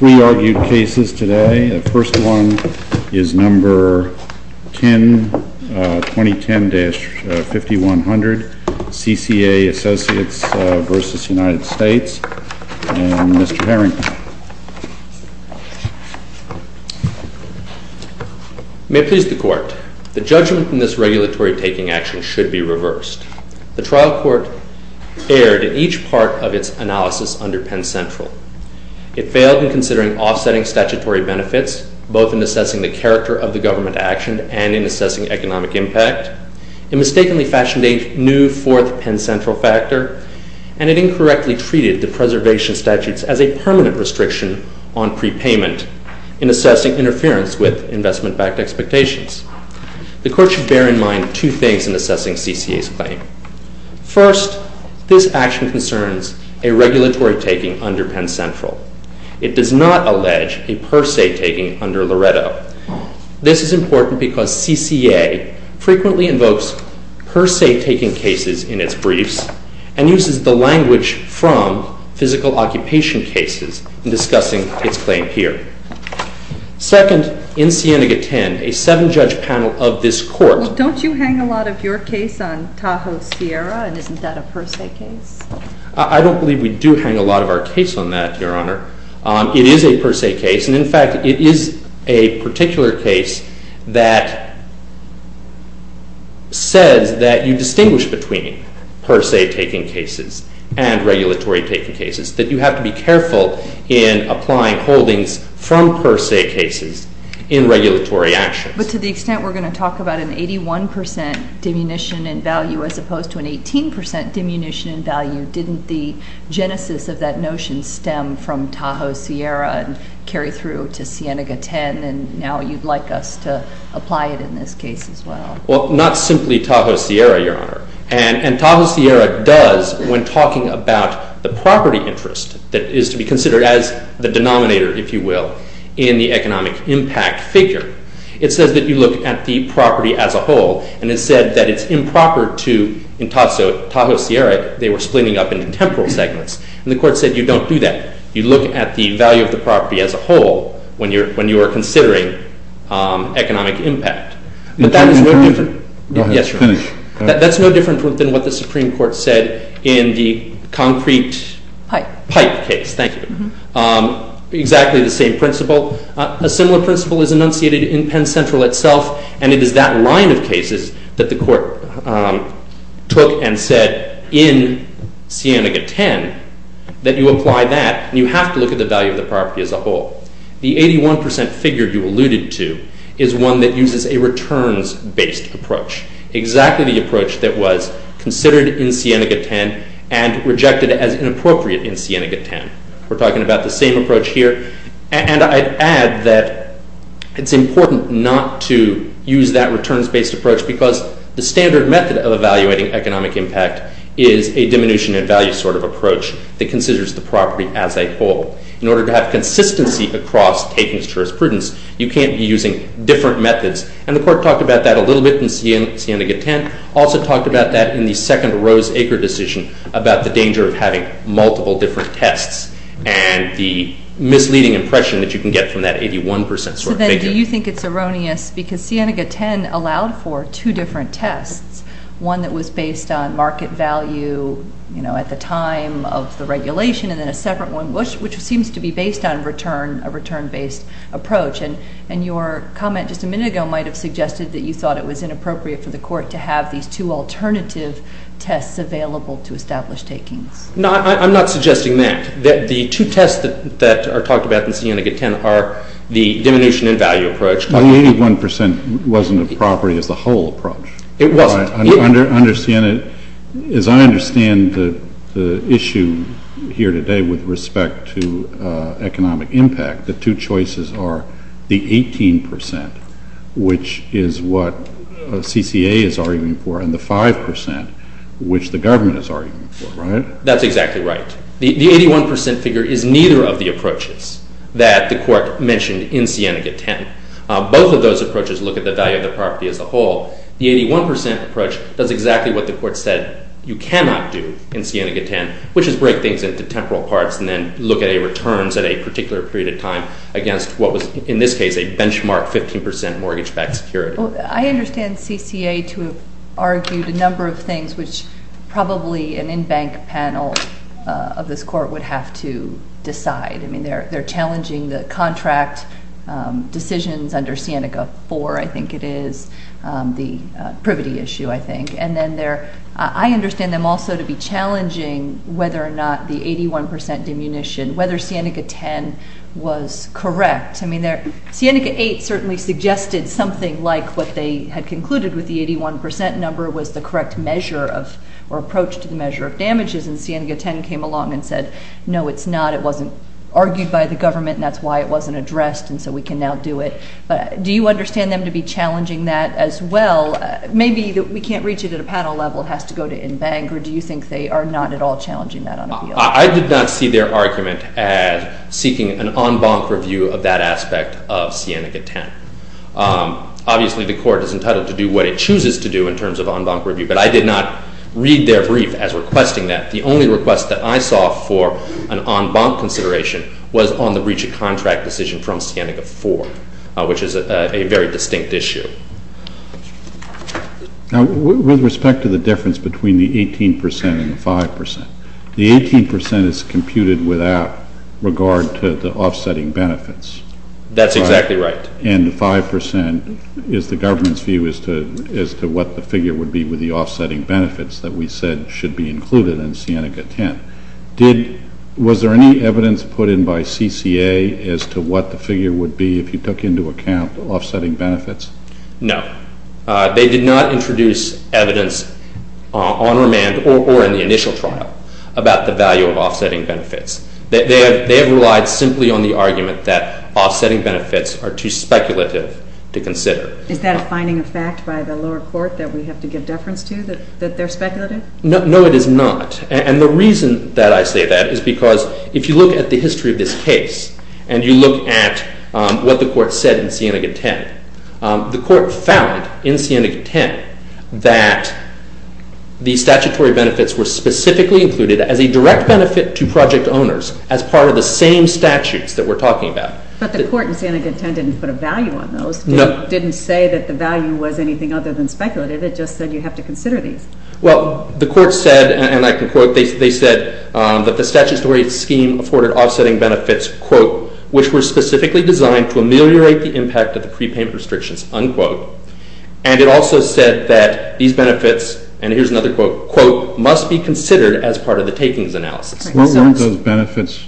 and Mr. Harrington. May it please the Court, the judgment in this regulatory taking action should be reversed. The trial court erred in each part of its analysis under Penn Central. It failed in considering offsetting statutory benefits, both in assessing the character of the government action and in assessing economic impact. It mistakenly fashioned a new fourth Penn Central factor and it incorrectly treated the preservation statutes as a permanent restriction on prepayment in assessing interference with investment-backed expectations. The Court should bear in mind two things in assessing CCA's claim. First, this action concerns a regulatory taking under Penn Central. It does not allege a per se taking under Loretto. This is important because CCA frequently invokes per se taking cases in its briefs and uses the language from physical occupation cases in discussing its claim here. Second, in Siena-Gaten, a seven-judge panel of this Court... Don't you hang a lot of your case on Tahoe-Sierra and isn't that a per se case? I don't believe we do hang a lot of our case on that, Your Honor. It is a per se case and, in fact, it is a particular case that says that you distinguish between per se taking cases and regulatory taking cases, that you have to be careful in applying holdings from per se cases in regulatory actions. But to the extent we're going to talk about an 81% diminution in value as opposed to an 18% diminution in value, didn't the genesis of that notion stem from Tahoe-Sierra and carry through to Siena-Gaten and now you'd like us to apply it in this case as well? Well, not simply Tahoe-Sierra, Your Honor. And Tahoe-Sierra does, when talking about the property interest that is to be considered as the denominator, if you will, in the economic impact figure, it says that you look at the property as a whole, and it said that it's improper to, in Tahoe-Sierra, they were splitting up into temporal segments, and the Court said you don't do that. You look at the value of the property as a whole when you are considering economic impact. But that is no different than what the Supreme Court said in the concrete pipe case, exactly the same principle. A similar principle is enunciated in Penn Central itself, and it is that line of cases that the Court took and said in Siena-Gaten that you apply that, and you have to look at the value of the property as a whole. The 81% figure you alluded to is one that uses a returns-based approach, exactly the approach that was considered in Siena-Gaten and rejected as inappropriate in Siena-Gaten. We're talking about the same approach here, and I'd add that it's important not to use that returns-based approach because the standard method of evaluating economic impact is a diminution in value sort of approach that considers the property as a whole. In order to have consistency across taking jurisprudence, you can't be using different methods, and the Court talked about that a little bit in Siena-Gaten, also talked about that in the second Rose-Aker decision about the danger of having multiple different tests and the misleading impression that you can get from that 81% sort of figure. So then do you think it's erroneous because Siena-Gaten allowed for two different tests, one that was based on market value at the time of the regulation, and then a separate one which seems to be based on a return-based approach, and your comment just a minute ago might have suggested that you thought it was inappropriate for the two tests available to establish takings. No, I'm not suggesting that. The two tests that are talked about in Siena-Gaten are the diminution in value approach. The 81% wasn't a property as a whole approach. It wasn't. As I understand the issue here today with respect to economic impact, the two choices are the 18%, which is what the government is arguing for, right? That's exactly right. The 81% figure is neither of the approaches that the Court mentioned in Siena-Gaten. Both of those approaches look at the value of the property as a whole. The 81% approach does exactly what the Court said you cannot do in Siena-Gaten, which is break things into temporal parts and then look at returns at a particular period of time against what was, in this case, a benchmark 15% mortgage-backed security. I understand CCA to have argued a number of things, which probably an in-bank panel of this Court would have to decide. I mean, they're challenging the contract decisions under Siena-Gaten 4, I think it is, the privity issue, I think. And then I understand them also to be challenging whether or not the 81% diminution, whether Siena-Gaten was correct. I mean, Siena-Gaten 8 certainly suggested something like what they had concluded with the 81% number was the correct measure of or approach to the measure of damages, and Siena-Gaten came along and said, no, it's not. It wasn't argued by the government, and that's why it wasn't addressed, and so we can now do it. But do you understand them to be challenging that as well? Maybe we can't reach it at a panel level, it has to go to in-bank, or do you think they are not at all challenging that on appeal? I did not see their argument at seeking an on-bank review of that aspect of Siena-Gaten. Obviously, the Court is entitled to do what it chooses to do in terms of on-bank review, but I did not read their brief as requesting that. The only request that I saw for an on-bank consideration was on the breach of contract decision from Siena-Gaten 4, which is a very distinct issue. Now, with respect to the difference between the 18% and the 5%, the 18% is computed without regard to the offsetting benefits. That's exactly right. And the 5% is the government's view as to what the figure would be with the offsetting benefits that we said should be included in Siena-Gaten. Was there any evidence put in by CCA as to what the figure would be if you took into account offsetting benefits? No. They did not introduce evidence on remand or in the initial trial about the value of offsetting benefits. They have relied simply on the argument that offsetting benefits are too speculative to consider. Is that a finding of fact by the lower court that we have to give deference to, that they're speculative? No, it is not. And the reason that I say that is because if you look at the history of this case, and you look at what the Court said in Siena-Gaten, the Court found in Siena-Gaten that the statutory benefits were specifically included as a direct benefit to project owners as part of the same statutes that we're talking about. But the Court in Siena-Gaten didn't put a value on those. No. Didn't say that the value was anything other than speculative. It just said you have to consider these. Well, the Court said, and I can quote, they said that the statutory scheme afforded offsetting benefits, quote, which were specifically designed to ameliorate the impact of the prepayment restrictions, unquote. And it also said that these benefits, and here's another quote, quote, must be considered as part of the takings analysis. Weren't those benefits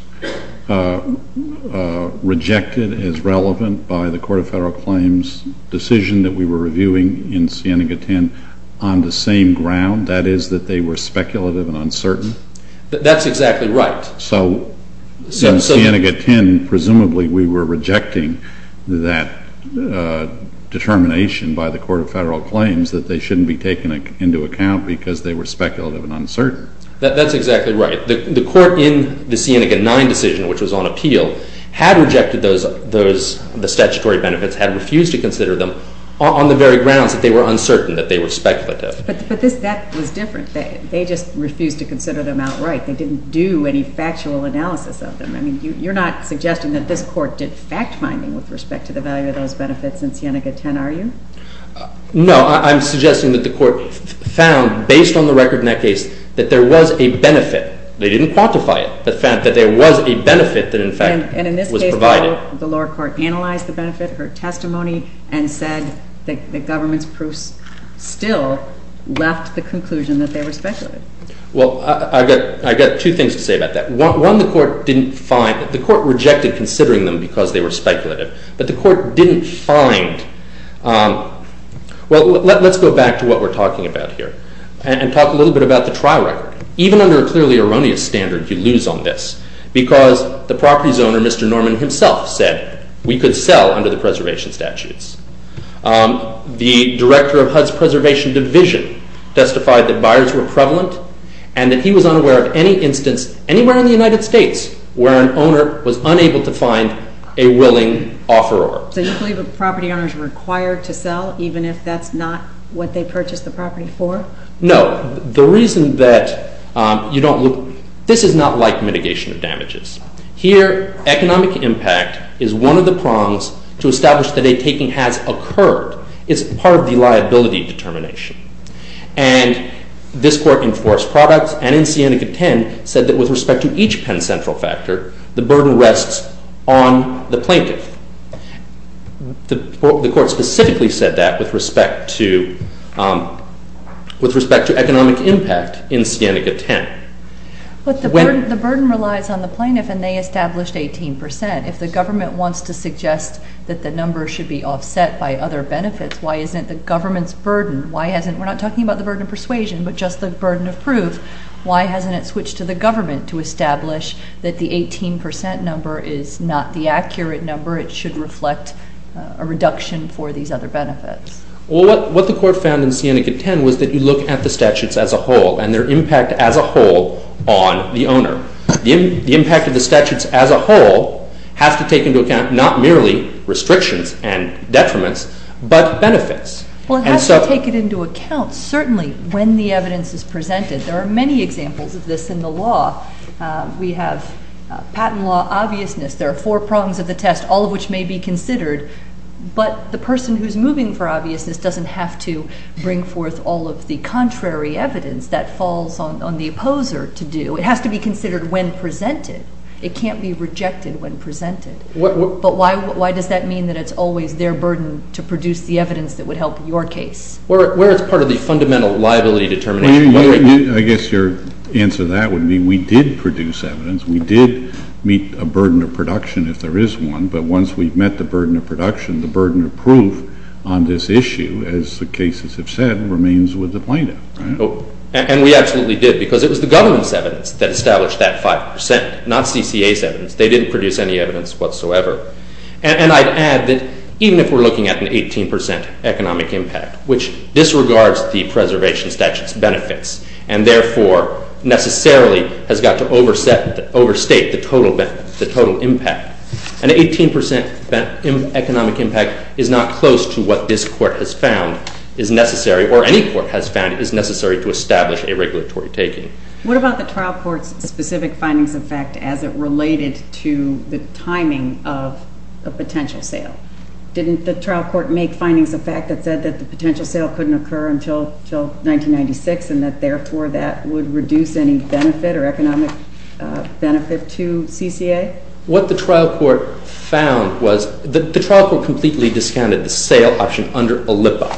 rejected as relevant by the Court of Federal Claims decision that we were reviewing in Siena-Gaten on the same ground, that is that they were speculative and uncertain? That's exactly right. So in Siena-Gaten, presumably, we were rejecting that determination by the Court of Federal Claims that they shouldn't be taken into account because they were speculative and uncertain. That's exactly right. The Court in the Siena-Gaten 9 decision, which was on appeal, had rejected the statutory benefits, had refused to consider them on the very grounds that they were uncertain, that they were speculative. But that was different. They just refused to consider them outright. They didn't do any factual analysis of them. I mean, you're not suggesting that this Court did fact-finding with respect to the value of those benefits in Siena-Gaten, are you? No, I'm suggesting that the Court found, based on the record in that case, that there was a benefit. They didn't quantify it, but found that there was a benefit that, in fact, was provided. And in this case, the lower court analyzed the benefit, her testimony, and said that the government's proofs still left the conclusion that they were speculative. Well, I've got two things to say about that. One, the Court didn't find—the Court rejected considering them because they were speculative, but the Court didn't find—well, let's go back to what we're talking about here and talk a little bit about the trial record. Even under a clearly erroneous standard, you lose on this because the property's owner, Mr. Norman himself, said we could sell under the preservation statutes. The director of HUD's preservation division testified that buyers were prevalent and that he was unaware of any instance anywhere in the United States where an owner was unable to find a willing offeror. So you believe a property owner is required to sell even if that's not what they purchased the property for? No. The reason that you don't—this is not like mitigation of damages. Here, economic impact is one of the prongs to establish that a taking has occurred. It's part of the liability determination. And this Court in Forest Products and in Siennica 10 said that with respect to each Penn Central factor, the burden rests on the plaintiff. The Court specifically said that with respect to economic impact in Siennica 10. But the burden relies on the plaintiff and they established 18%. If the government wants to suggest that the number should be offset by other benefits, why isn't the government's burden—we're not talking about the burden of persuasion, but just the burden of proof—why hasn't it switched to the government to establish that the 18% number is not the accurate number? It should reflect a reduction for these other benefits. Well, what the Court found in Siennica 10 was that you look at the statutes as a whole and their impact as a whole on the owner. The impact of the statutes as a whole has to take into account not merely restrictions and detriments, but benefits. Well, it has to take it into account, certainly, when the evidence is presented. There are many examples of this in the law. We have patent law obviousness. There are four prongs of the test, all of which may be considered. But the person who's moving for obviousness doesn't have to bring forth all of the contrary evidence that falls on the opposer to do. It has to be considered when presented. It can't be rejected when presented. But why does that mean that it's always their burden to produce the evidence that would help your case? Where it's part of the fundamental liability determination. I guess your answer to that would be we did produce evidence. We did meet a burden of production, if there is one. But once we've met the burden of production, the burden of proof on this issue, as the cases have said, remains with the plaintiff. And we absolutely did, because it was the government's evidence that established that 5%, not CCA's evidence. They didn't produce any evidence whatsoever. And I'd add that even if we're looking at an 18% economic impact, which disregards the preservation statute's benefits, and therefore necessarily has got to overstate the total impact. An 18% economic impact is not close to what this court has found is necessary, or any court has found is necessary to establish a regulatory taking. What about the trial court's specific findings of fact as it related to the timing of a potential sale? Didn't the trial court make findings of fact that said that the potential sale couldn't occur until 1996, and that therefore that would reduce any benefit or economic benefit to CCA? What the trial court found was, the trial court completely discounted the sale option under a LIPRA.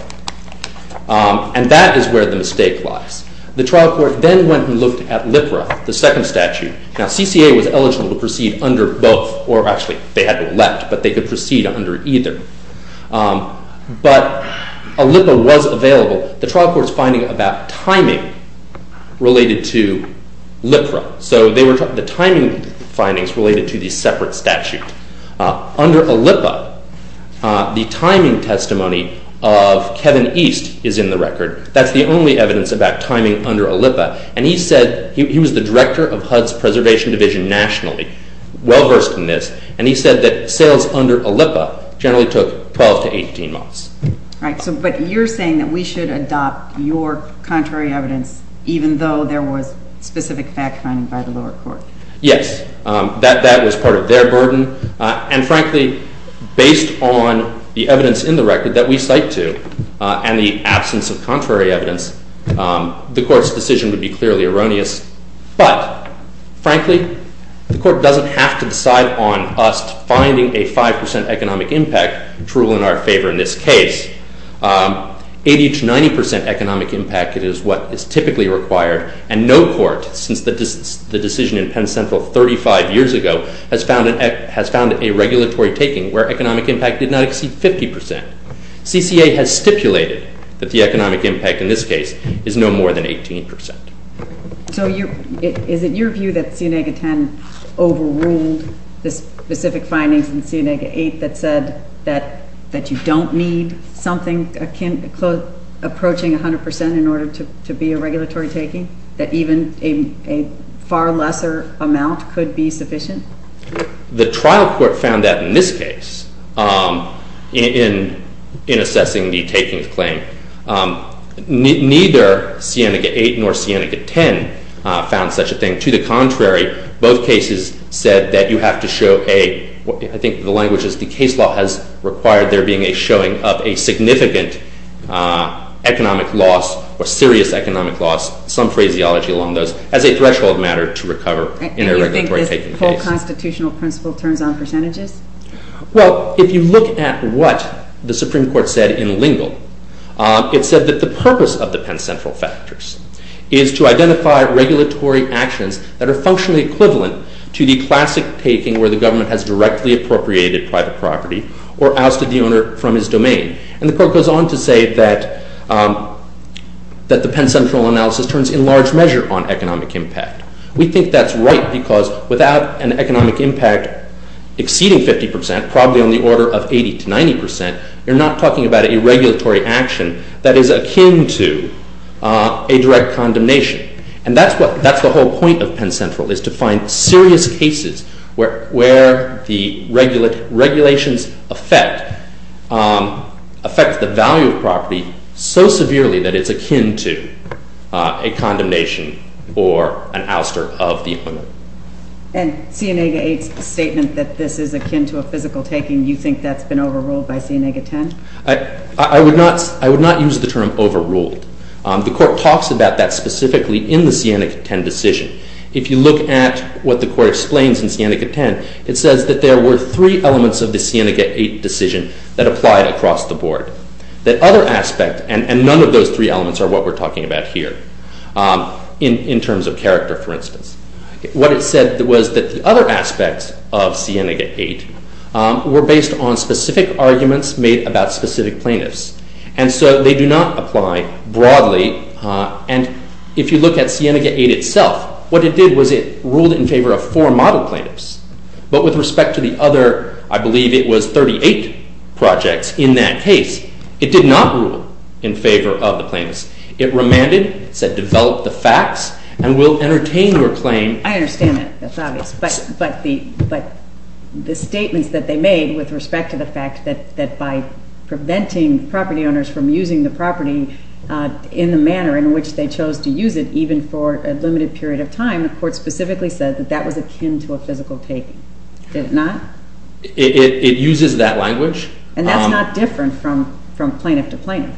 And that is where the mistake lies. The trial court then went and looked at LIPRA, the second statute. Now, CCA was eligible to proceed under both, or actually they had to elect, but they could proceed under either. But a LIPRA was available. The trial court's finding about timing related to LIPRA, so the timing findings related to the separate statute. Under a LIPRA, the timing testimony of Kevin East is in the record. That's the only evidence about timing under a LIPRA. And he said, he was the director of HUD's preservation division nationally, well-versed in this. And he said that sales under a LIPRA generally took 12 to 18 months. Right, but you're saying that we should adopt your contrary evidence, even though there was specific fact finding by the lower court. Yes, that was part of their burden. And frankly, based on the evidence in the record that we cite to, and the absence of contrary evidence, the court's decision would be clearly erroneous. But, frankly, the court doesn't have to decide on us finding a 5% economic impact to rule in our favor in this case. 80 to 90% economic impact is what is typically required. And no court, since the decision in Penn Central 35 years ago, has found a regulatory taking where economic impact did not exceed 50%. CCA has stipulated that the economic impact in this case is no more than 18%. So is it your view that CNEGA 10 overruled the specific findings in CNEGA 8 that said that you don't need something approaching 100% in order to be a regulatory taking? That even a far lesser amount could be sufficient? The trial court found that in this case, in assessing the takings claim. Neither CNEGA 8 nor CNEGA 10 found such a thing. To the contrary, both cases said that you have to show a, I think the language is, the case law has required there being a showing of a significant economic loss or serious economic loss, some phraseology along those, as a threshold matter to recover in a regulatory taking case. So the constitutional principle turns on percentages? Well, if you look at what the Supreme Court said in Lingle, it said that the purpose of the Penn Central factors is to identify regulatory actions that are functionally equivalent to the classic taking where the government has directly appropriated private property or ousted the owner from his domain. And the court goes on to say that the Penn Central analysis turns in large measure on economic impact. We think that's right because without an economic impact exceeding 50%, probably on the order of 80 to 90%, you're not talking about a regulatory action that is akin to a direct condemnation. And that's the whole point of Penn Central, is to find serious cases where the regulations affect the value of property so that it's not an ouster of the owner. And Sienega 8's statement that this is akin to a physical taking, you think that's been overruled by Sienega 10? I would not use the term overruled. The court talks about that specifically in the Sienega 10 decision. If you look at what the court explains in Sienega 10, it says that there were three elements of the Sienega 8 decision that applied across the board. The other aspect, and none of those three elements are what we're talking about here, in terms of character, for instance. What it said was that the other aspects of Sienega 8 were based on specific arguments made about specific plaintiffs. And so they do not apply broadly. And if you look at Sienega 8 itself, what it did was it ruled in favor of four model plaintiffs. But with respect to the other, I believe it was 38 projects in that case, it did not rule in favor of the plaintiffs. It remanded, said develop the facts, and will entertain your claim. I understand that, that's obvious. But the statements that they made with respect to the fact that by preventing property owners from using the property in the manner in which they chose to use it, even for a limited period of time, the court specifically said that that was akin to a physical taking. Did it not? It uses that language. And that's not different from plaintiff to plaintiff.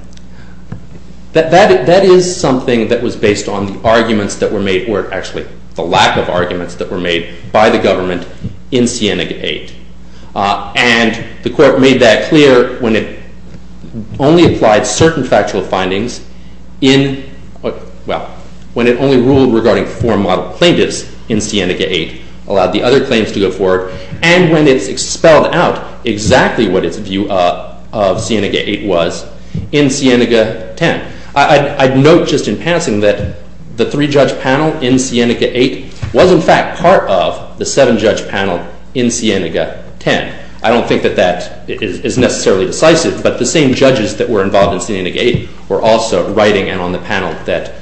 That is something that was based on the arguments that were made, or actually the lack of arguments that were made by the government in Sienega 8. And the court made that clear when it only applied certain factual findings in, well, when it only ruled regarding four model plaintiffs in Sienega 8, allowed the other claims to go forward. And when it expelled out exactly what its view of Sienega 8 was in Sienega 10. I'd note just in passing that the three judge panel in Sienega 8 was in fact part of the seven judge panel in Sienega 10. I don't think that that is necessarily decisive, but the same judges that were involved in Sienega 8 were also writing and on the panel that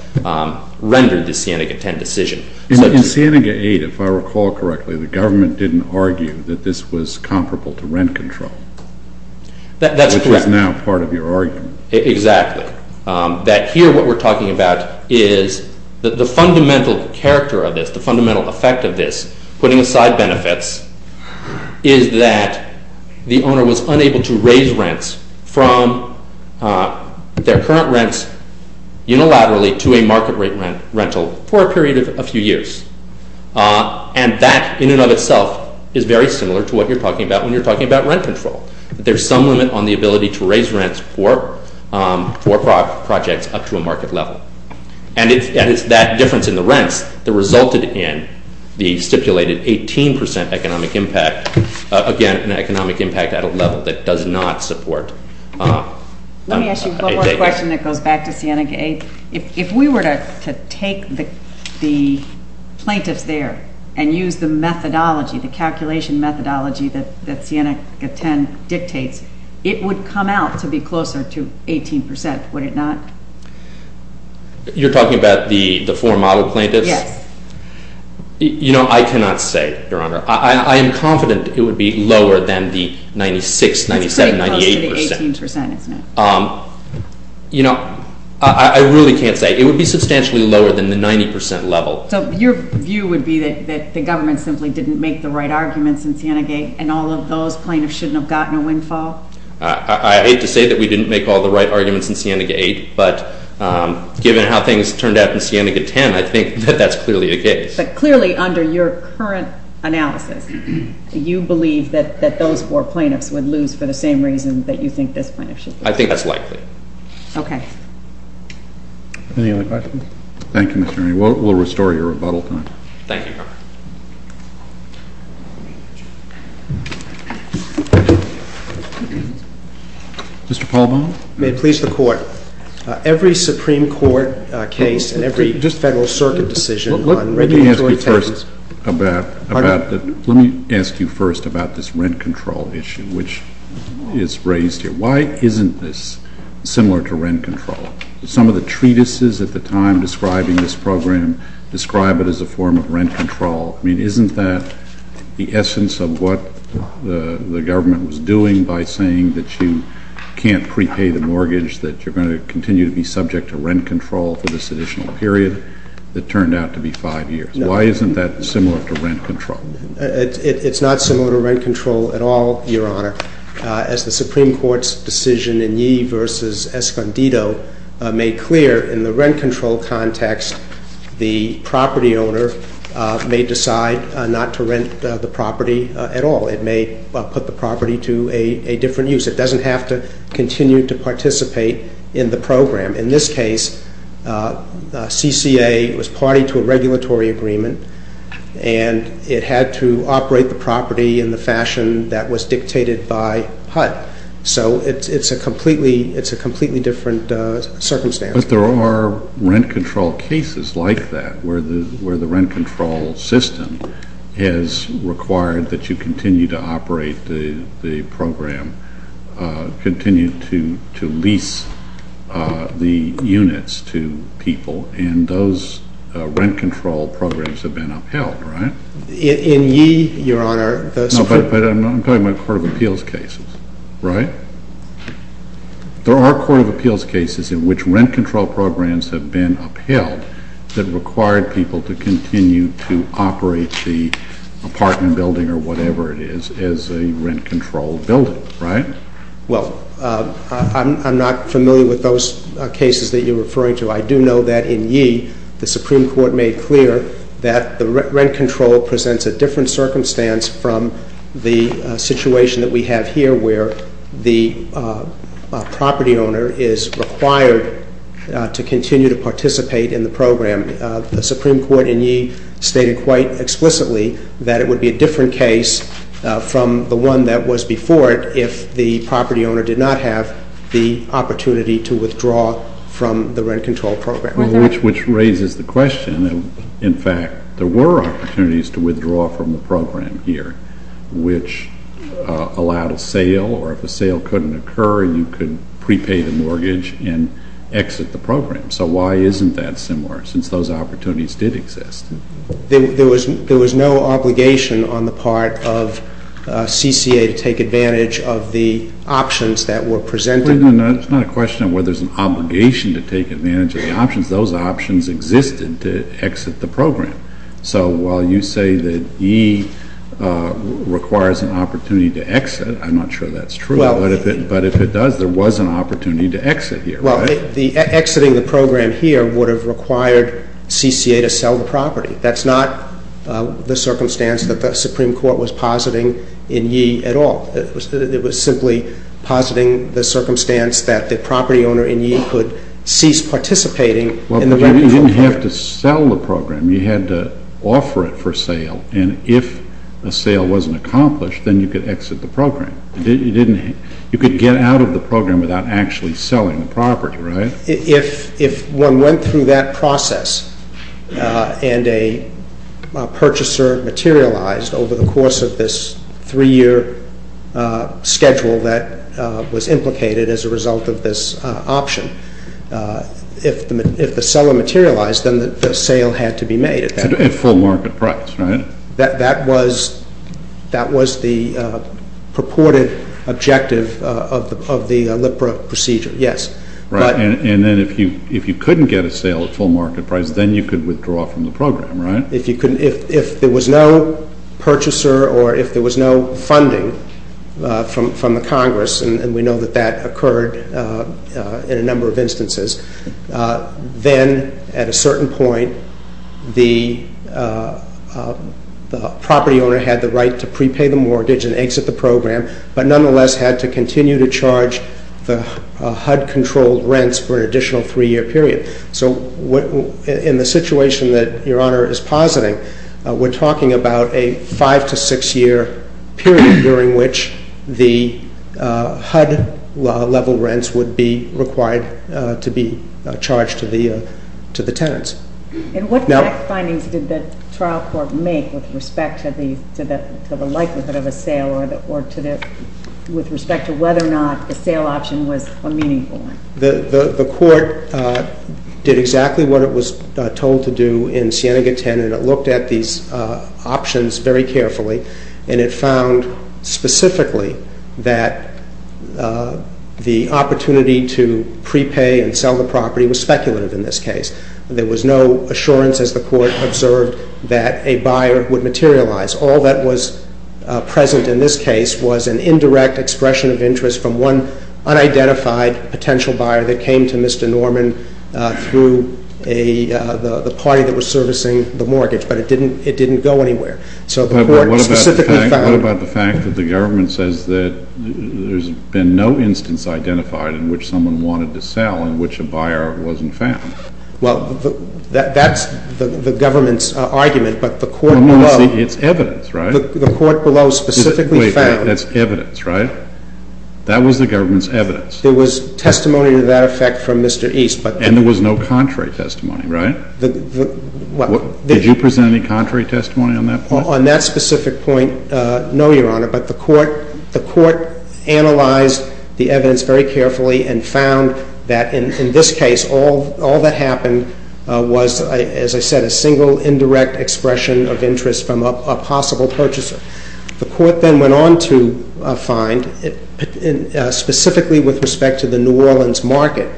rendered the Sienega 10 decision. In Sienega 8, if I recall correctly, the government didn't argue that this was comparable to rent control. That's correct. Which is now part of your argument. Exactly. That here what we're talking about is that the fundamental character of this, the fundamental effect of this, putting aside benefits, is that the owner was unable to raise rents from their current rents unilaterally to a market rate rental for a period of a few years. And that in and of itself is very similar to what you're talking about when you're talking about rent control. There's some limit on the ability to raise rents for projects up to a market level. And it's that difference in the rents that resulted in the stipulated 18% economic impact. Again, an economic impact at a level that does not support. Let me ask you one more question that goes back to Sienega 8. If we were to take the plaintiffs there and use the methodology, the calculation methodology that Sienega 10 dictates, it would come out to be closer to 18%, would it not? You're talking about the four model plaintiffs? Yes. You know, I cannot say, Your Honor. I am confident it would be lower than the 96, 97, 98%. It's pretty close to the 18%, isn't it? You know, I really can't say. It would be substantially lower than the 90% level. So your view would be that the government simply didn't make the right arguments in Sienega 8, and all of those plaintiffs shouldn't have gotten a windfall? I hate to say that we didn't make all the right arguments in Sienega 8, but given how things turned out in Sienega 10, I think that that's clearly the case. But clearly, under your current analysis, you believe that those four plaintiffs would lose for the same reason that you think this plaintiff should lose. I think that's likely. Okay. Any other questions? Thank you, Mr. Ernie. We'll restore your rebuttal time. Thank you, Your Honor. Mr. Paul Baum. May it please the court. Every Supreme Court case and every Federal Circuit decision on regulatory taxes- Let me ask you first about this rent control issue, which is raised here. Why isn't this similar to rent control? Some of the treatises at the time describing this program describe it as a form of rent control. I mean, isn't that the essence of what the government was doing by saying that you can't prepay the mortgage, that you're going to continue to be subject to rent control for this additional period that turned out to be five years? Why isn't that similar to rent control? It's not similar to rent control at all, Your Honor. As the Supreme Court's decision in Yee versus Escondido made clear, in the rent control context, the property owner may decide not to rent the property at all. It may put the property to a different use. It doesn't have to continue to participate in the program. In this case, CCA was party to a regulatory agreement, and it had to operate the property in the fashion that was dictated by HUD. So it's a completely different circumstance. But there are rent control cases like that, where the rent control system has required that you continue to operate the program, continue to lease the units to people. And those rent control programs have been upheld, right? In Yee, Your Honor, the- No, but I'm talking about court of appeals cases, right? There are court of appeals cases in which rent control programs have been upheld that required people to continue to operate the apartment building or whatever it is as a rent controlled building, right? Well, I'm not familiar with those cases that you're referring to. I do know that in Yee, the Supreme Court made clear that the rent control presents a different circumstance from the situation that we have here, where the property owner is required to continue to participate in the program. The Supreme Court in Yee stated quite explicitly that it would be a different case from the one that was before it if the property owner did not have the opportunity to withdraw from the rent control program. Which raises the question. In fact, there were opportunities to withdraw from the program here, which allowed a sale, or if a sale couldn't occur, you could prepay the mortgage and exit the program. So why isn't that similar, since those opportunities did exist? There was no obligation on the part of CCA to take advantage of the options that were presented. No, no, no, it's not a question of whether there's an obligation to take advantage of the options. Those options existed to exit the program. So while you say that Yee requires an opportunity to exit, I'm not sure that's true. But if it does, there was an opportunity to exit here, right? Well, exiting the program here would have required CCA to sell the property. That's not the circumstance that the Supreme Court was positing in Yee at all. It was simply positing the circumstance that the property owner in Yee could cease participating in the rent control program. Well, but you didn't have to sell the program. You had to offer it for sale. And if a sale wasn't accomplished, then you could exit the program. You could get out of the program without actually selling the property, right? If one went through that process, and a purchaser materialized over the course of this three-year schedule that was implicated as a result of this option, if the seller materialized, then the sale had to be made at that point. At full market price, right? That was the purported objective of the LIPRA procedure, yes. Right. And then if you couldn't get a sale at full market price, then you could withdraw from the program, right? If there was no purchaser or if there was no funding from the Congress, and we know that that occurred in a number of instances, then at a certain point, the property owner had the right to prepay the mortgage and exit the program, but nonetheless had to continue to charge the HUD-controlled rents for an additional three-year period. So in the situation that Your Honor is positing, we're talking about a five- to six-year period during which the HUD-level rents would be required to be charged to the tenants. And what findings did the trial court make with respect to the likelihood of a sale or with respect to whether or not the sale option was a meaningful one? The court did exactly what it was told to do in Siena-Gaten and it looked at these options very carefully and it found specifically that the opportunity to prepay and sell the property was speculative in this case. There was no assurance, as the court observed, that a buyer would materialize. All that was present in this case was an indirect expression of interest from one unidentified potential buyer that came to Mr. Norman through the party that was servicing the mortgage, but it didn't go anywhere. What about the fact that the government says that there's been no instance identified in which someone wanted to sell in which a buyer wasn't found? Well, that's the government's argument, but the court below... It's evidence, right? The court below specifically found... That's evidence, right? That was the government's evidence. There was testimony to that effect from Mr. East, but... And there was no contrary testimony, right? Did you present any contrary testimony on that point? On that specific point, no, Your Honor, but the court analyzed the evidence very carefully and found that in this case all that happened was, as I said, a single indirect expression of interest from a possible purchaser. The court then went on to find, specifically with respect to the New Orleans market,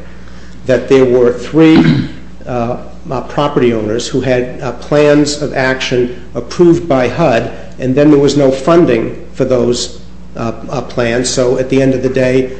that there were three property owners who had plans of action approved by HUD and then there was no funding for those plans, so at the end of the day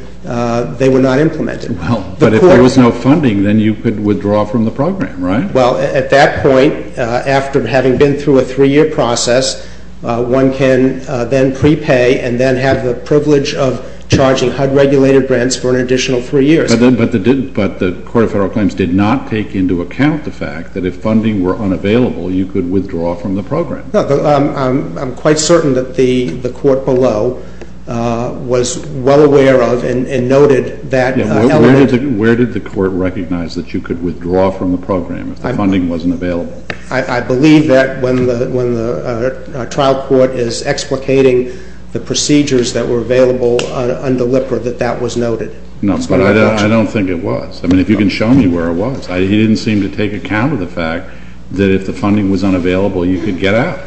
they were not implemented. But if there was no funding, then you could withdraw from the program, right? Well, at that point, after having been through a three-year process, one can then prepay and then have the privilege of charging HUD-regulated grants for an additional three years. But the Court of Federal Claims did not take into account the fact that if funding were unavailable, you could withdraw from the program. I'm quite certain that the court below was well aware of and noted that element... Where did the court recognize that you could withdraw from the program if the funding wasn't available? I believe that when the trial court is explicating the procedures that were available under LIPR that that was noted. No, but I don't think it was. I mean, if you can show me where it was. He didn't seem to take account of the fact that if the funding was unavailable, you could get out.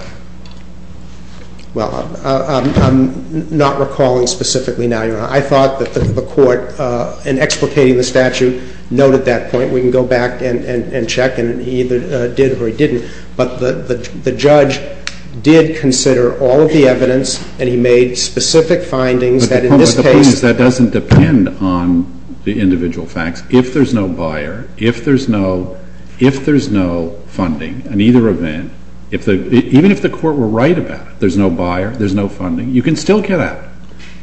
Well, I'm not recalling specifically now. I thought that the court, in explicating the statute, noted that point. We can go back and check and he either did or he didn't. But the judge did consider all of the evidence and he made specific findings that in this case... But the point is, that doesn't depend on the individual facts. If there's no buyer, if there's no funding, in either event, even if the court were right about it, there's no buyer, there's no funding, you can still get out.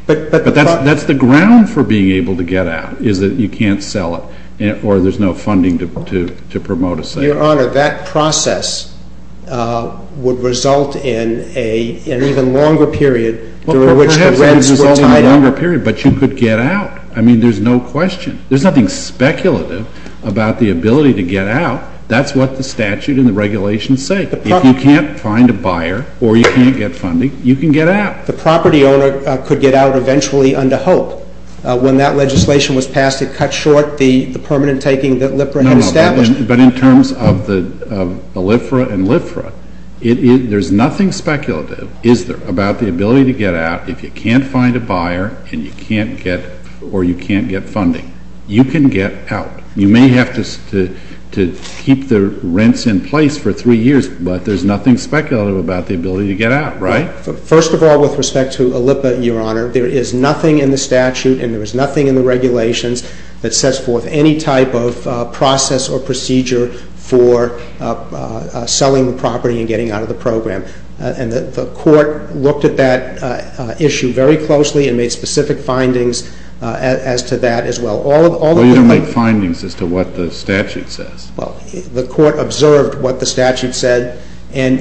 But that's the ground for being able to get out is that you can't sell it or there's no funding to promote a sale. Your Honor, that process would result in an even longer period during which the rents were tied up. But you could get out. I mean, there's no question. There's nothing speculative about the ability to get out. That's what the statute and the regulations say. If you can't find a buyer or you can't get funding, you can get out. The property owner could get out eventually under hope. When that legislation was passed, it cut short the permanent taking that LIFRA had established. But in terms of the LIFRA and LIFRA, there's nothing speculative, is there, about the ability to get out if you can't find a buyer and you can't get funding. You can get out. You may have to keep the rents in place for three years, but there's nothing speculative about the ability to get out, right? First of all, with respect to OLIPA, Your Honor, there is nothing in the statute and there is nothing in the regulations that sets forth any type of process or procedure for selling the property and getting out of the program. The court looked at that issue very closely and made specific findings as to that as well. Well, you don't make findings as to what the statute says. Well, the court observed what the statute said and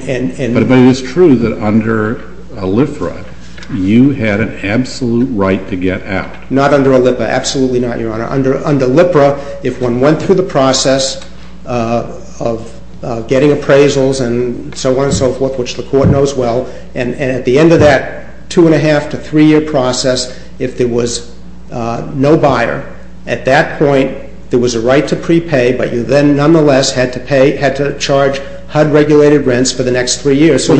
But it's true that under LIFRA, you had an absolute right to get out. Not under OLIPA, absolutely not, Your Honor. Under LIFRA, if one went through the process of getting appraisals and so on and so forth, which the court knows well, and at the end of that two and a half to three year process if there was no buyer, at that point there was a right to prepay, but you then nonetheless had to pay, had to charge HUD regulated rents for the next three years. But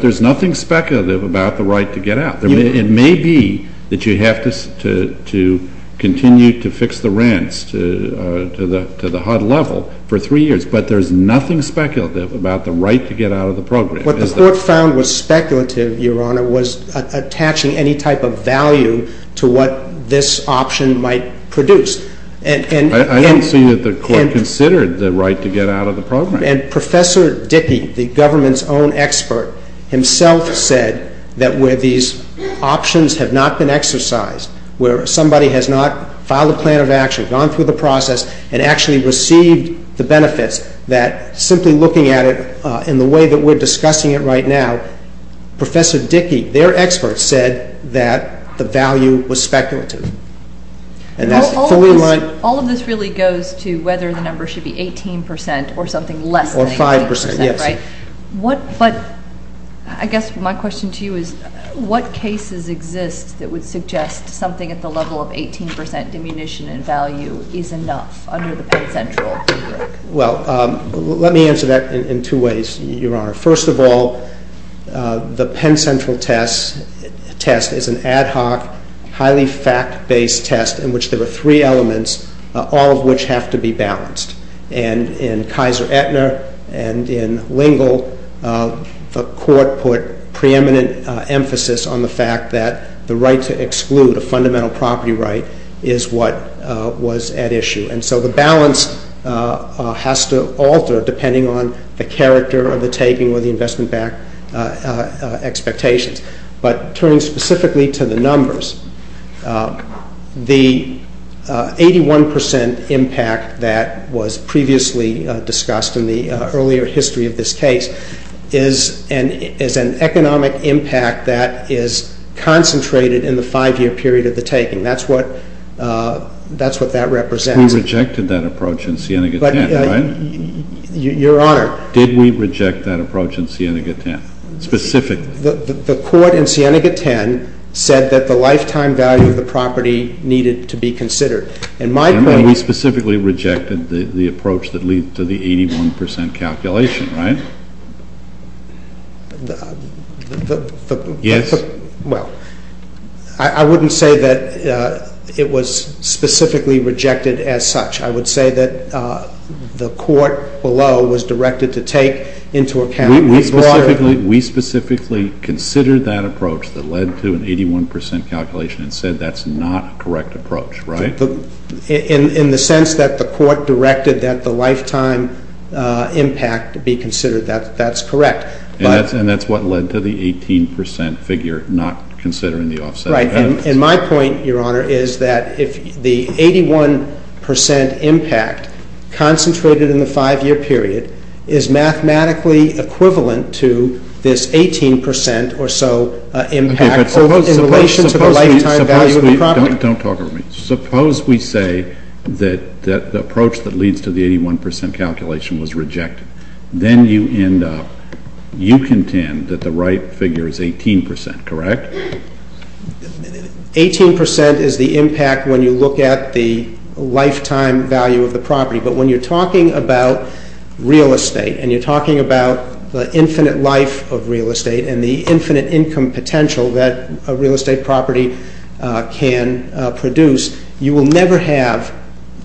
there's nothing speculative about the right to get out. It may be that you have to continue to fix the rents to the HUD level for three years, but there's nothing speculative about the right to get out of the program. What the court found was speculative, Your Honor, was attaching any type of value to what this option might produce. I don't see that the court considered the right to get out of the program. And Professor Dickey, the government's own expert, himself said that where these options have not been exercised, where somebody has not filed a plan of action, gone through the process and actually received the benefits, that simply looking at it in the way that we're discussing it right now, Professor Dickey, their expert, said that the value was speculative. And that's fully my... All of this really goes to whether the number should be 18% or something less than 18%, right? Or 5%, yes. But, I guess my question to you is, what cases exist that would suggest something at the level of 18% diminution in value is enough under the Penn Central? Well, let me answer that in two ways, Your Honor. First of all, the Penn Central test is an ad hoc, highly fact-based test in which there are three elements, all of which have to be balanced. And in Kaiser-Ettner and in Lingle, the Court put preeminent emphasis on the fact that the right to exclude, a fundamental property right, is what was at issue. And so the balance has to alter depending on the character of the taking or the investment-backed expectations. But, turning specifically to the numbers, the 81% impact that was previously discussed in the earlier history of this case is an economic impact that is concentrated in the five-year period of the taking. That's what that represents. We rejected that approach in Sienega 10, right? Your Honor. Did we reject that approach in Sienega 10, specifically? The Court in Sienega 10 said that the lifetime value of the property needed to be considered. And we specifically rejected the approach that led to the 81% calculation, right? Yes. I wouldn't say that it was specifically rejected as such. I would say that the Court below was directed to take into account We specifically considered that approach that led to that's not a correct approach, right? In the sense that the Court directed that the lifetime impact be considered that's correct. And that's what led to the 18% figure not considering the offset. And my point, Your Honor, is that if the 81% impact concentrated in the five-year period is mathematically equivalent to this 18% or so impact in relation to the lifetime value of the property? Don't talk over me. Suppose we say that the approach that leads to the 81% calculation was rejected. Then you end up you contend that the right figure is 18%, correct? 18% is the impact when you look at the lifetime value of the property. But when you're talking about real estate and you're talking about the infinite life of real estate and the infinite income potential that a real estate property can produce, you will never have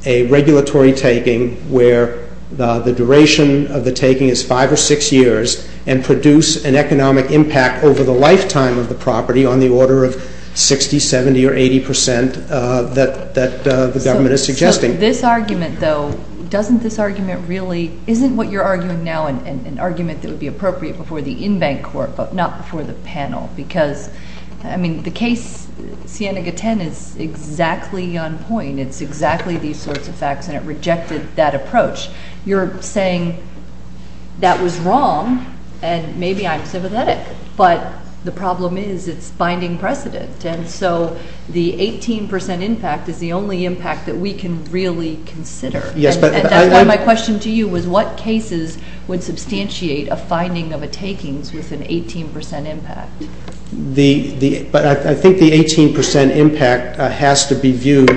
a regulatory taking where the duration of the taking is five or six years and produce an economic impact over the lifetime of the property on the order of 60, 70, or 80% that the government is suggesting. So this argument, though, doesn't this argument really isn't what you're arguing now an argument that would be appropriate before the in-bank court but not before the panel because I mean the case Siena-Gaten is exactly on point. It's exactly these sorts of facts and it rejected that approach. You're saying that was wrong and maybe I'm sympathetic but the problem is it's binding precedent and so the 18% impact is the only impact that we can really consider. And that's why my question to you was what cases would substantiate a finding of a takings with an 18% impact? I think the 18% impact has to be viewed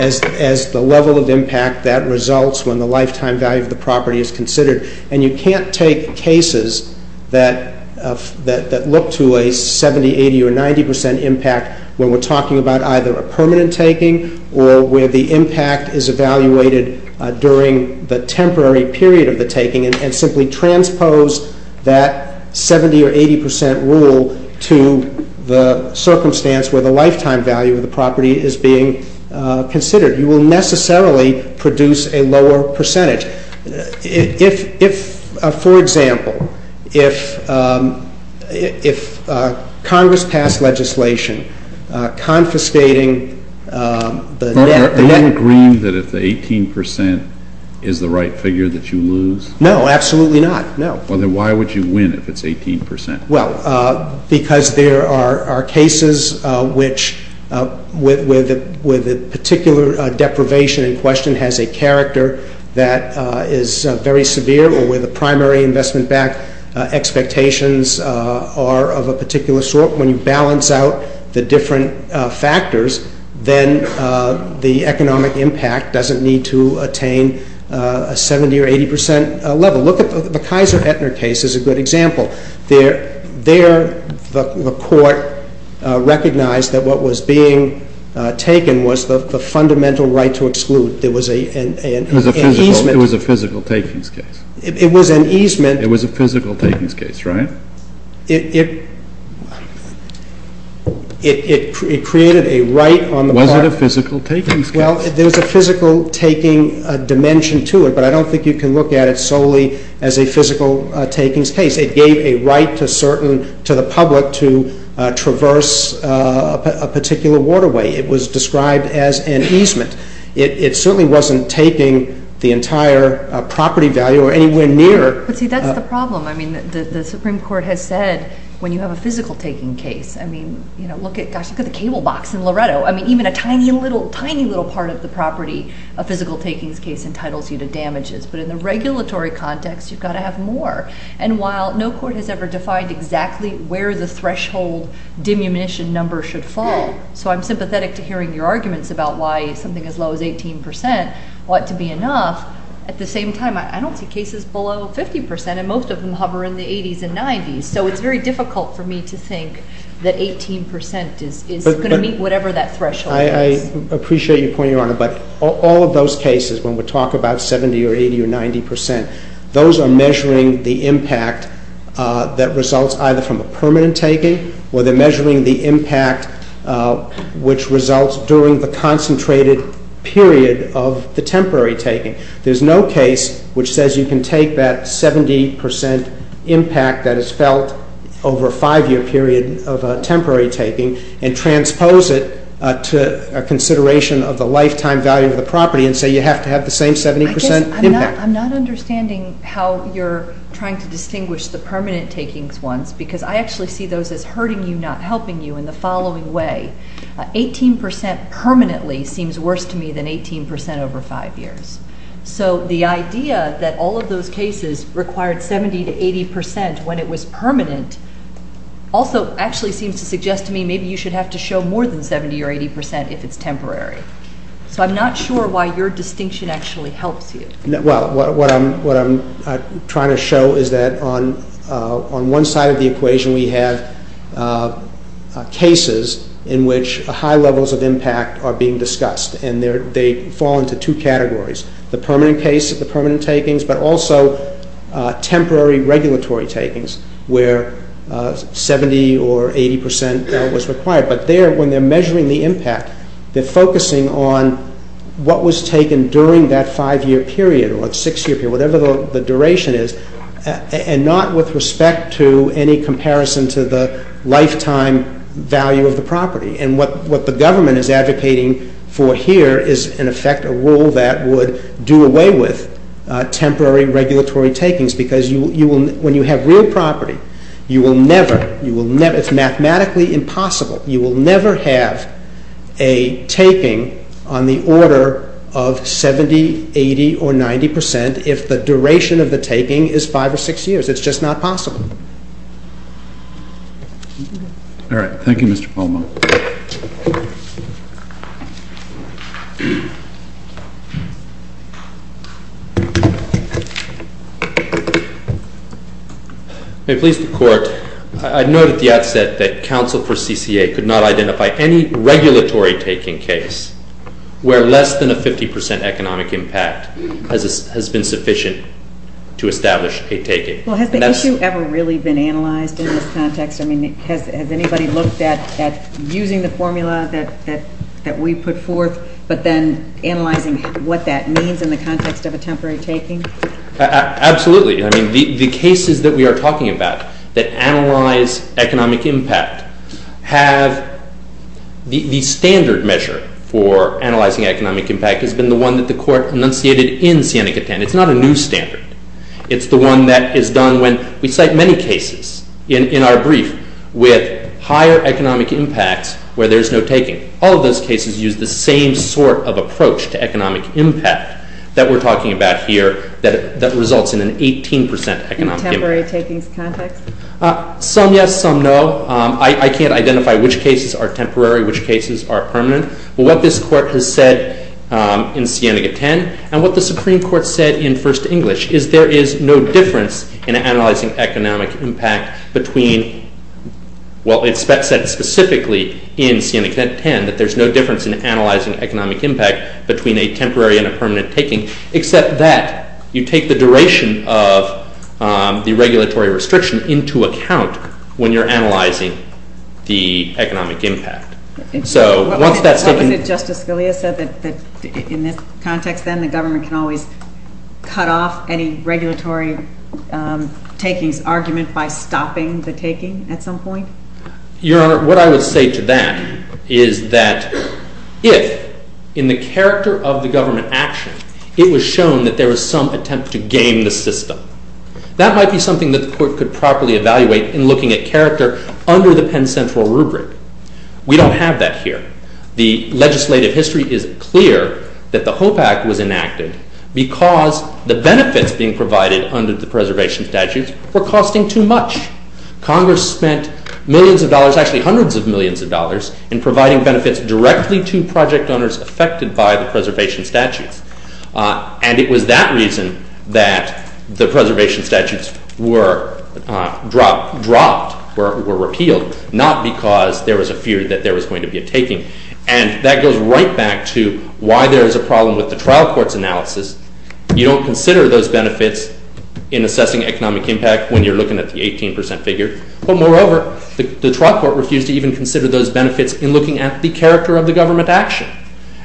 as the level of impact that results when the lifetime value of the property is considered and you can't take cases that look to a 70, 80, or 90% impact when we're talking about either a permanent taking or where the impact is evaluated during the temporary period of the taking and simply transpose that 70 or 80% rule to the circumstance where the lifetime value of the property is being considered. You will necessarily produce a lower percentage. If, for example, if Congress passed legislation confiscating the net... Is the right figure that you lose? No, absolutely not, no. Why would you win if it's 18%? Well, because there are cases which where the particular deprivation in question has a character that is very severe or where the primary investment back expectations are of a particular sort, when you balance out the different factors, then the economic impact doesn't need to attain a 70 or 80% level. Look at the Kaiser-Ettner case as a good example. There, the court recognized that what was being taken was the fundamental right to exclude. It was a physical takings case. It was an easement. It was a physical takings case, right? It... It created a right on the part... It's not a physical takings case. Well, there's a physical taking dimension to it, but I don't think you can look at it solely as a physical takings case. It gave a right to certain... to the public to traverse a particular waterway. It was described as an easement. It certainly wasn't taking the entire property value or anywhere near... But see, that's the problem. I mean, the Supreme Court has said, when you have a physical taking case, I mean, you know, look at... I mean, even a tiny little part of the property, a physical takings case entitles you to damages, but in the regulatory context, you've got to have more. And while no court has ever defined exactly where the threshold diminution number should fall, so I'm sympathetic to hearing your arguments about why something as low as 18% ought to be enough. At the same time, I don't see cases below 50%, and most of them hover in the 80s and 90s, so it's very difficult for me to think that 18% is going to meet whatever that threshold is. I appreciate your point, Your Honor, but all of those cases, when we talk about 70 or 80 or 90%, those are measuring the impact that results either from a permanent taking, or they're measuring the impact which results during the concentrated period of the temporary taking. There's no case which says you can take that 70% impact that is felt over a five-year period of temporary taking and transpose it to a consideration of the lifetime value of the property and say you have to have the same 70% impact. I'm not understanding how you're trying to distinguish the permanent takings ones, because I actually see those as hurting you, not helping you in the following way. 18% permanently seems worse to me than 18% over five years. So the idea that all of those cases required 70 to 80% when it was temporary actually seems to suggest to me maybe you should have to show more than 70 or 80% if it's temporary. So I'm not sure why your distinction actually helps you. What I'm trying to show is that on one side of the equation we have cases in which high levels of impact are being discussed, and they fall into two categories. The permanent case, the permanent takings, but also temporary regulatory takings where 70 or 80% was required. But there, when they're measuring the impact, they're focusing on what was taken during that five-year period or six-year period, whatever the duration is, and not with respect to any comparison to the lifetime value of the property. And what the government is advocating for here is, in effect, a rule that would do away with temporary regulatory takings because when you have real property, you will never – it's mathematically impossible – you will never have a taking on the order of 70, 80, or 90% if the duration of the taking is five or six years. It's just not possible. All right. Thank you, Mr. Palmo. May it please the Court, I note at the outset that counsel for CCA could not identify any regulatory taking case where less than a 50% economic impact has been sufficient to establish a taking. Well, has the issue ever really been analyzed in this context? I mean, has anybody looked at using the formula that we put forth, but then analyzing what that means in the context of a temporary taking? Absolutely. I mean, the cases that we are talking about that analyze economic impact have – the standard measure for analyzing economic impact has been the one that the Court enunciated in Siena-Catan. It's not a new standard. It's the one that is done when we cite many cases in our brief with higher economic impacts where there's no taking. All of those cases use the same sort of approach to economic impact that we're talking about here that results in an 18% economic impact. In a temporary taking context? Some yes, some no. I can't identify which cases are temporary, which cases are permanent. What this Court has said in Siena-Catan and what the Supreme Court said in First English is there is no difference in analyzing economic impact between – well, it said specifically in Siena-Catan that there's no difference in analyzing economic impact between a temporary and a permanent taking except that you take the duration of the regulatory restriction into account when you're analyzing the economic impact. So once that's taken – Justice Scalia said that in this context then the government can always cut off any regulatory takings argument by stopping the taking at some point? Your Honor, what I would say to that is that if in the character of the government action it was shown that there was some attempt to game the system, that might be something that the Court could properly evaluate in looking at character under the Penn Central rubric. We don't have that here. The legislative history is clear that the HOPE Act was enacted because the benefits being provided under the preservation statutes were costing too much. Congress spent millions of dollars – actually hundreds of millions of dollars in providing benefits directly to project owners affected by the preservation statutes. And it was that reason that the preservation statutes were dropped or repealed, not because there was a fear that there was going to be a taking. And that goes right back to why there is a problem with the trial court's analysis. You don't consider those benefits in assessing economic impact when you're looking at the 18% figure. But moreover, the benefits in looking at the character of the government action.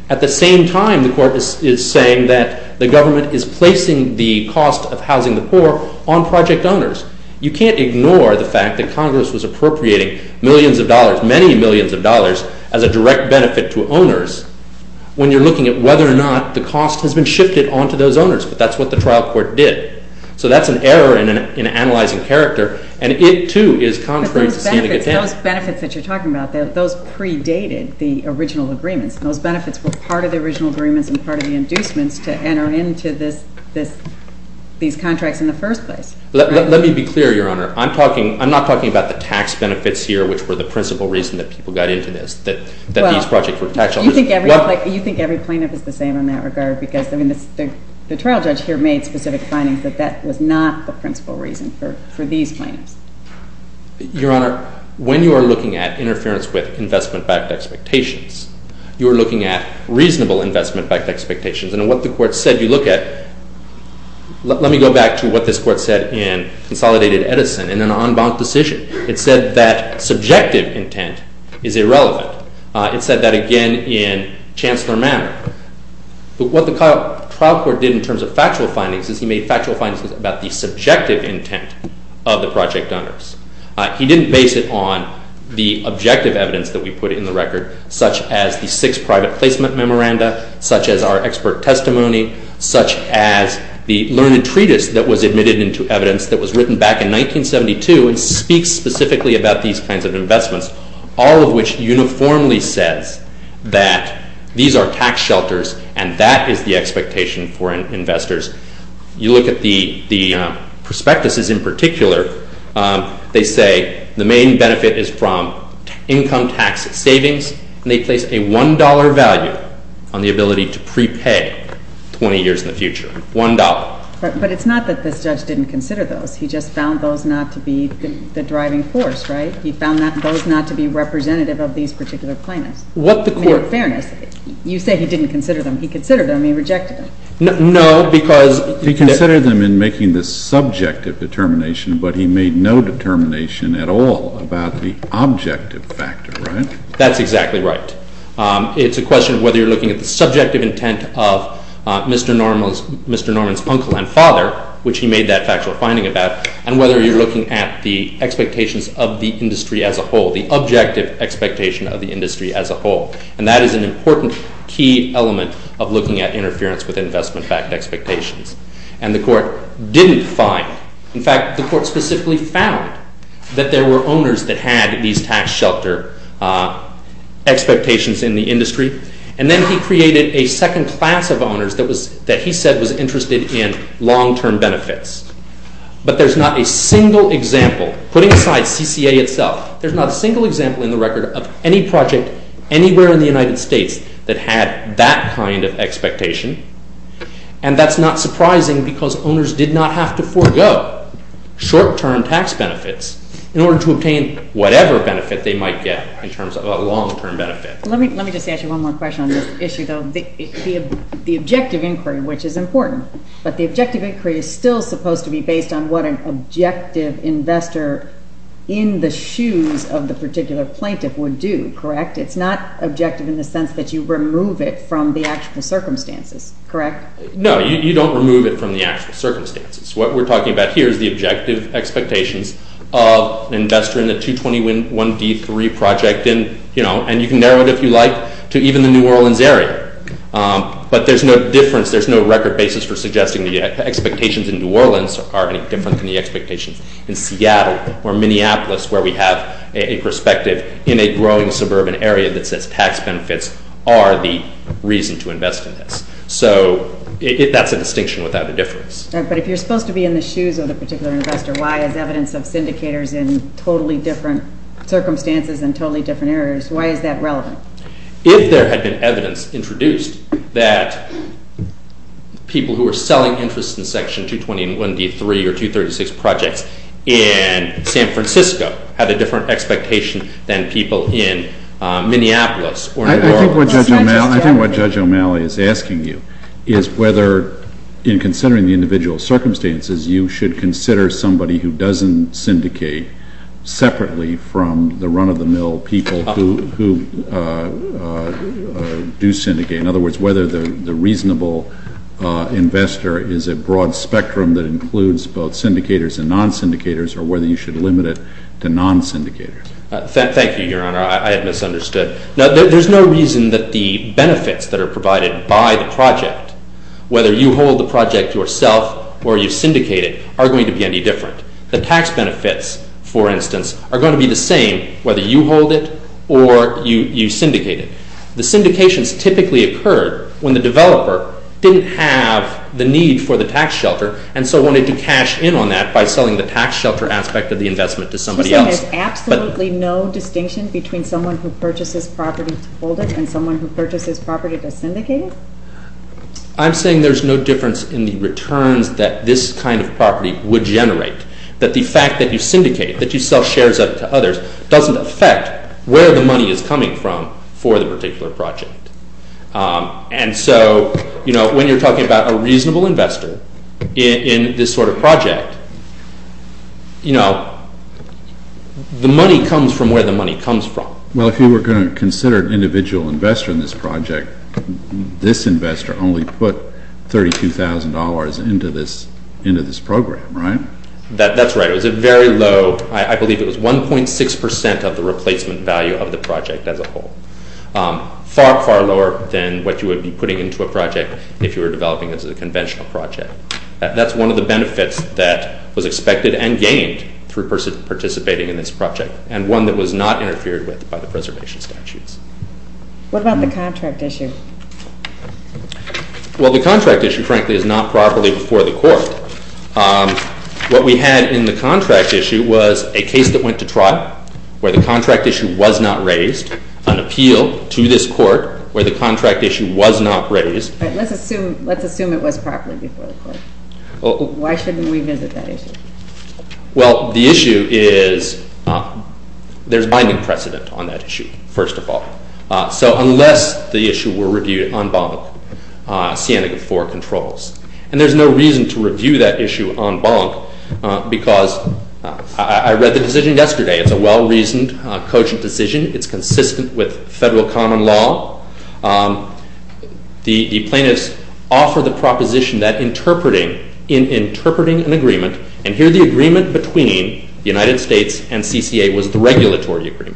At the same time, the Court is saying that the government is placing the cost of housing the poor on project owners. You can't ignore the fact that Congress was appropriating millions of dollars, many millions of dollars, as a direct benefit to owners when you're looking at whether or not the cost has been shifted onto those owners. But that's what the trial court did. So that's an error in analyzing character and it too is contrary to Sannegatan. Those benefits that you're talking about, those predated the original agreements. Those benefits were part of the original agreements and part of the inducements to enter into these contracts in the first place. Let me be clear, Your Honor. I'm not talking about the tax benefits here, which were the principal reason that people got into this. You think every plaintiff is the same in that regard because the trial judge here made specific findings that that was not the principal reason for these plaintiffs. Your Honor, when you are looking at interference with investment backed expectations, you're looking at reasonable investment backed expectations and what the court said you look at, let me go back to what this court said in Consolidated Edison in an en banc decision. It said that subjective intent is irrelevant. It said that again in Chancellor Manor. But what the trial court did in terms of factual findings is he made factual findings about the subjective intent of the project owners. He didn't base it on the objective evidence that we put in the record, such as the six private placement memoranda, such as our expert testimony, such as the learned treatise that was admitted into evidence that was written back in 1972 and speaks specifically about these kinds of investments. All of which uniformly says that these are tax shelters and that is the expectation for investors. You look at the prospectuses in particular. They say the main benefit is from income tax savings and they place a one dollar value on the ability to prepay 20 years in the future. One dollar. But it's not that this judge didn't consider those. He just found those not to be the driving force, right? He found those not to be representative of these particular plaintiffs. In fairness, you say he didn't consider them. He considered them. No, because He considered them in making this subjective determination, but he made no determination at all about the objective factor, right? That's exactly right. It's a question of whether you're looking at the subjective intent of Mr. Norman's uncle and father, which he made that factual finding about, and whether you're looking at the expectations of the industry as a whole, the objective expectation of the industry as a whole. And that is an important key element of looking at interference with investment-backed expectations. And the Court didn't find in fact, the Court specifically found that there were owners that had these tax shelter expectations in the industry. And then he created a second class of owners that he said was interested in long-term benefits. But there's not a single example, putting aside CCA itself, there's not a single example in the record of any project anywhere in the United States that had that kind of expectation. And that's not surprising because owners did not have to forego short-term tax benefits in order to obtain whatever benefit they might get in terms of a long-term benefit. Let me just ask you one more question on this issue though. The objective inquiry, which is important, but the objective inquiry is still supposed to be based on what an objective investor in the shoes of the particular plaintiff would do, correct? It's not objective in the sense that you remove it from the actual circumstances, correct? No, you don't remove it from the actual circumstances. What we're talking about here is the objective expectations of an investor in the 221D3 project and you can narrow it if you like to even the New Orleans area. But there's no difference, there's no record basis for suggesting the expectations in New Orleans are any different than the expectations in Seattle or Minneapolis where we have a perspective in a growing suburban area that says tax benefits are the reason to invest in this. So that's a distinction without a difference. But if you're supposed to be in the shoes of the particular investor, why is evidence of syndicators in totally different circumstances and totally different areas, why is that relevant? If there had been evidence introduced that people who are selling interest in Section 221D3 or 236 projects in San Francisco had a different expectation than people in Minneapolis or New Orleans. I think what Judge O'Malley is asking you is whether in considering the individual circumstances, you should consider somebody who doesn't syndicate separately from the run-of-the-mill people who do syndicate. In other words, whether the reasonable investor is a broad spectrum that includes both syndicators and non-syndicators or whether you should limit it to non-syndicators. Thank you, Your Honor. I had misunderstood. There's no reason that the benefits that are provided by the project, whether you hold the project yourself or you syndicate it, are going to be any different. The tax benefits, for instance, are going to be the same whether you hold it or you syndicate it. The syndications typically occurred when the developer didn't have the need for the tax shelter and so wanted to cash in on that by selling the tax shelter aspect of the investment to somebody else. So there's absolutely no distinction between someone who purchases property to hold it and someone who purchases property to syndicate it? I'm saying there's no difference in the returns that this kind of property would generate. That the fact that you syndicate, that you sell shares of it to others, doesn't affect where the money is coming from for the particular project. And so, you know, when you're talking about a reasonable investor in this sort of project, you know, the money comes from where the money comes from. Well, if you were going to consider an individual investor in this project, this investor only put $32,000 into this program, right? That's right. It was a very low, I believe it was 1.6 percent of the replacement value of the project as a whole. Far, far lower than what you would be putting into a project if you were developing it as a conventional project. That's one of the benefits that was expected and gained through participating in this project and one that was not interfered with by the preservation statutes. What about the contract issue? Well, the contract issue frankly is not properly before the court. What we had in the contract issue was a case that went to trial where the contract issue was not raised, an appeal to this court where the contract issue was not raised. Let's assume it was properly before the court. Why shouldn't we revisit that issue? Well, the issue is there's binding precedent on that issue first of all. So unless the issue were reviewed en banc sienic of four controls and there's no reason to review that issue en banc because I read the decision yesterday. It's a well-reasoned, cogent decision. It's consistent with federal common law. The plaintiffs offer the proposition that interpreting an agreement and here the agreement between the United States and CCA was the regulatory agreement.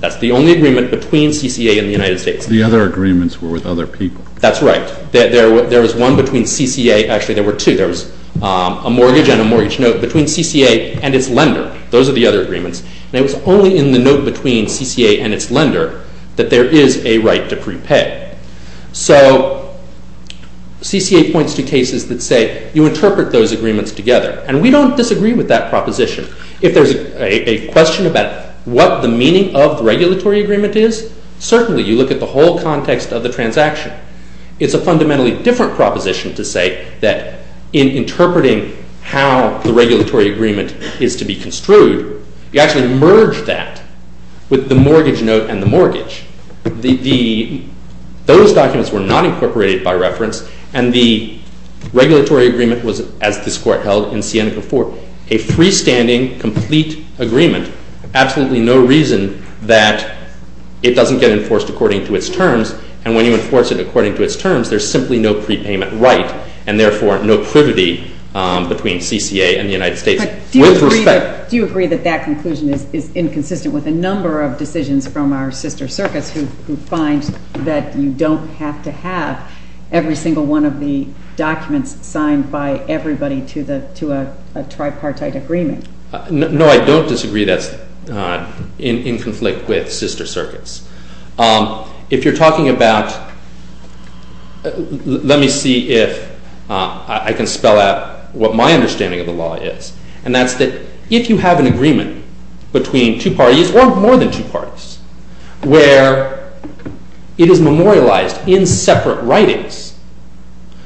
That's the only agreement between CCA and the United States. The other agreements were with other people. That's right. There was one between CCA, actually there were two. There was a mortgage and a mortgage note between the agreements and it was only in the note between CCA and its lender that there is a right to prepay. So CCA points to cases that say you interpret those agreements together and we don't disagree with that proposition. If there's a question about what the meaning of the regulatory agreement is, certainly you look at the whole context of the transaction. It's a fundamentally different proposition to say that in interpreting how the regulatory agreement is to be construed, you actually merge that with the mortgage note and the mortgage. Those documents were not incorporated by reference and the regulatory agreement was, as this Court held in Siena v. 4, a freestanding complete agreement. Absolutely no reason that it doesn't get enforced according to its terms and when you enforce it according to its terms, there's simply no prepayment right and therefore no privity between CCA and the United States. Do you agree that that conclusion is inconsistent with a number of decisions from our sister circuits who find that you don't have to have every single one of the documents signed by everybody to a tripartite agreement? No, I don't disagree that's in conflict with sister circuits. If you're talking about let me see if I can spell out what my understanding of the law is and that's that if you have an agreement between two parties or more than two parties where it is memorialized in separate writings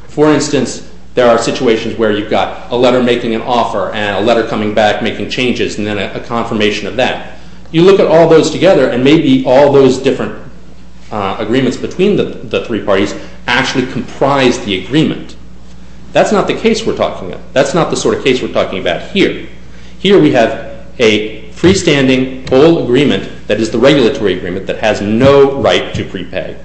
for instance there are situations where you've got a letter making an offer and a letter coming back making changes and then a confirmation of that. You look at all those together and maybe all those different agreements between the three parties actually comprise the agreement. That's not the case we're talking about. That's not the sort of case we're talking about here. Here we have a freestanding whole agreement that is the regulatory agreement that has no right to prepay.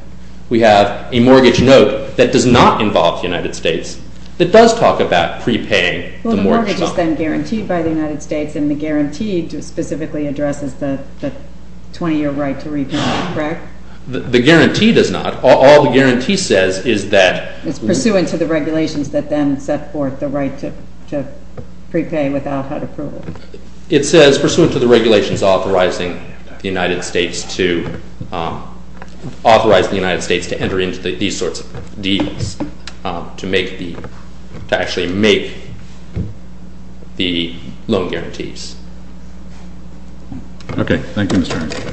We have a mortgage note that does not involve the United States that does talk about prepaying the mortgage. Well the mortgage is then guaranteed by the United States and the guarantee specifically addresses the 20 year right to repayment correct? The guarantee does not. All the guarantee says is that it's pursuant to the regulations that then set forth the right to prepay without HUD approval. It says pursuant to the regulations authorizing the United States to authorize the United States to enter into these sorts of deals to make the, to actually make the loan guarantees. Okay. Thank you Mr. Armstrong. Thank you. Thank you.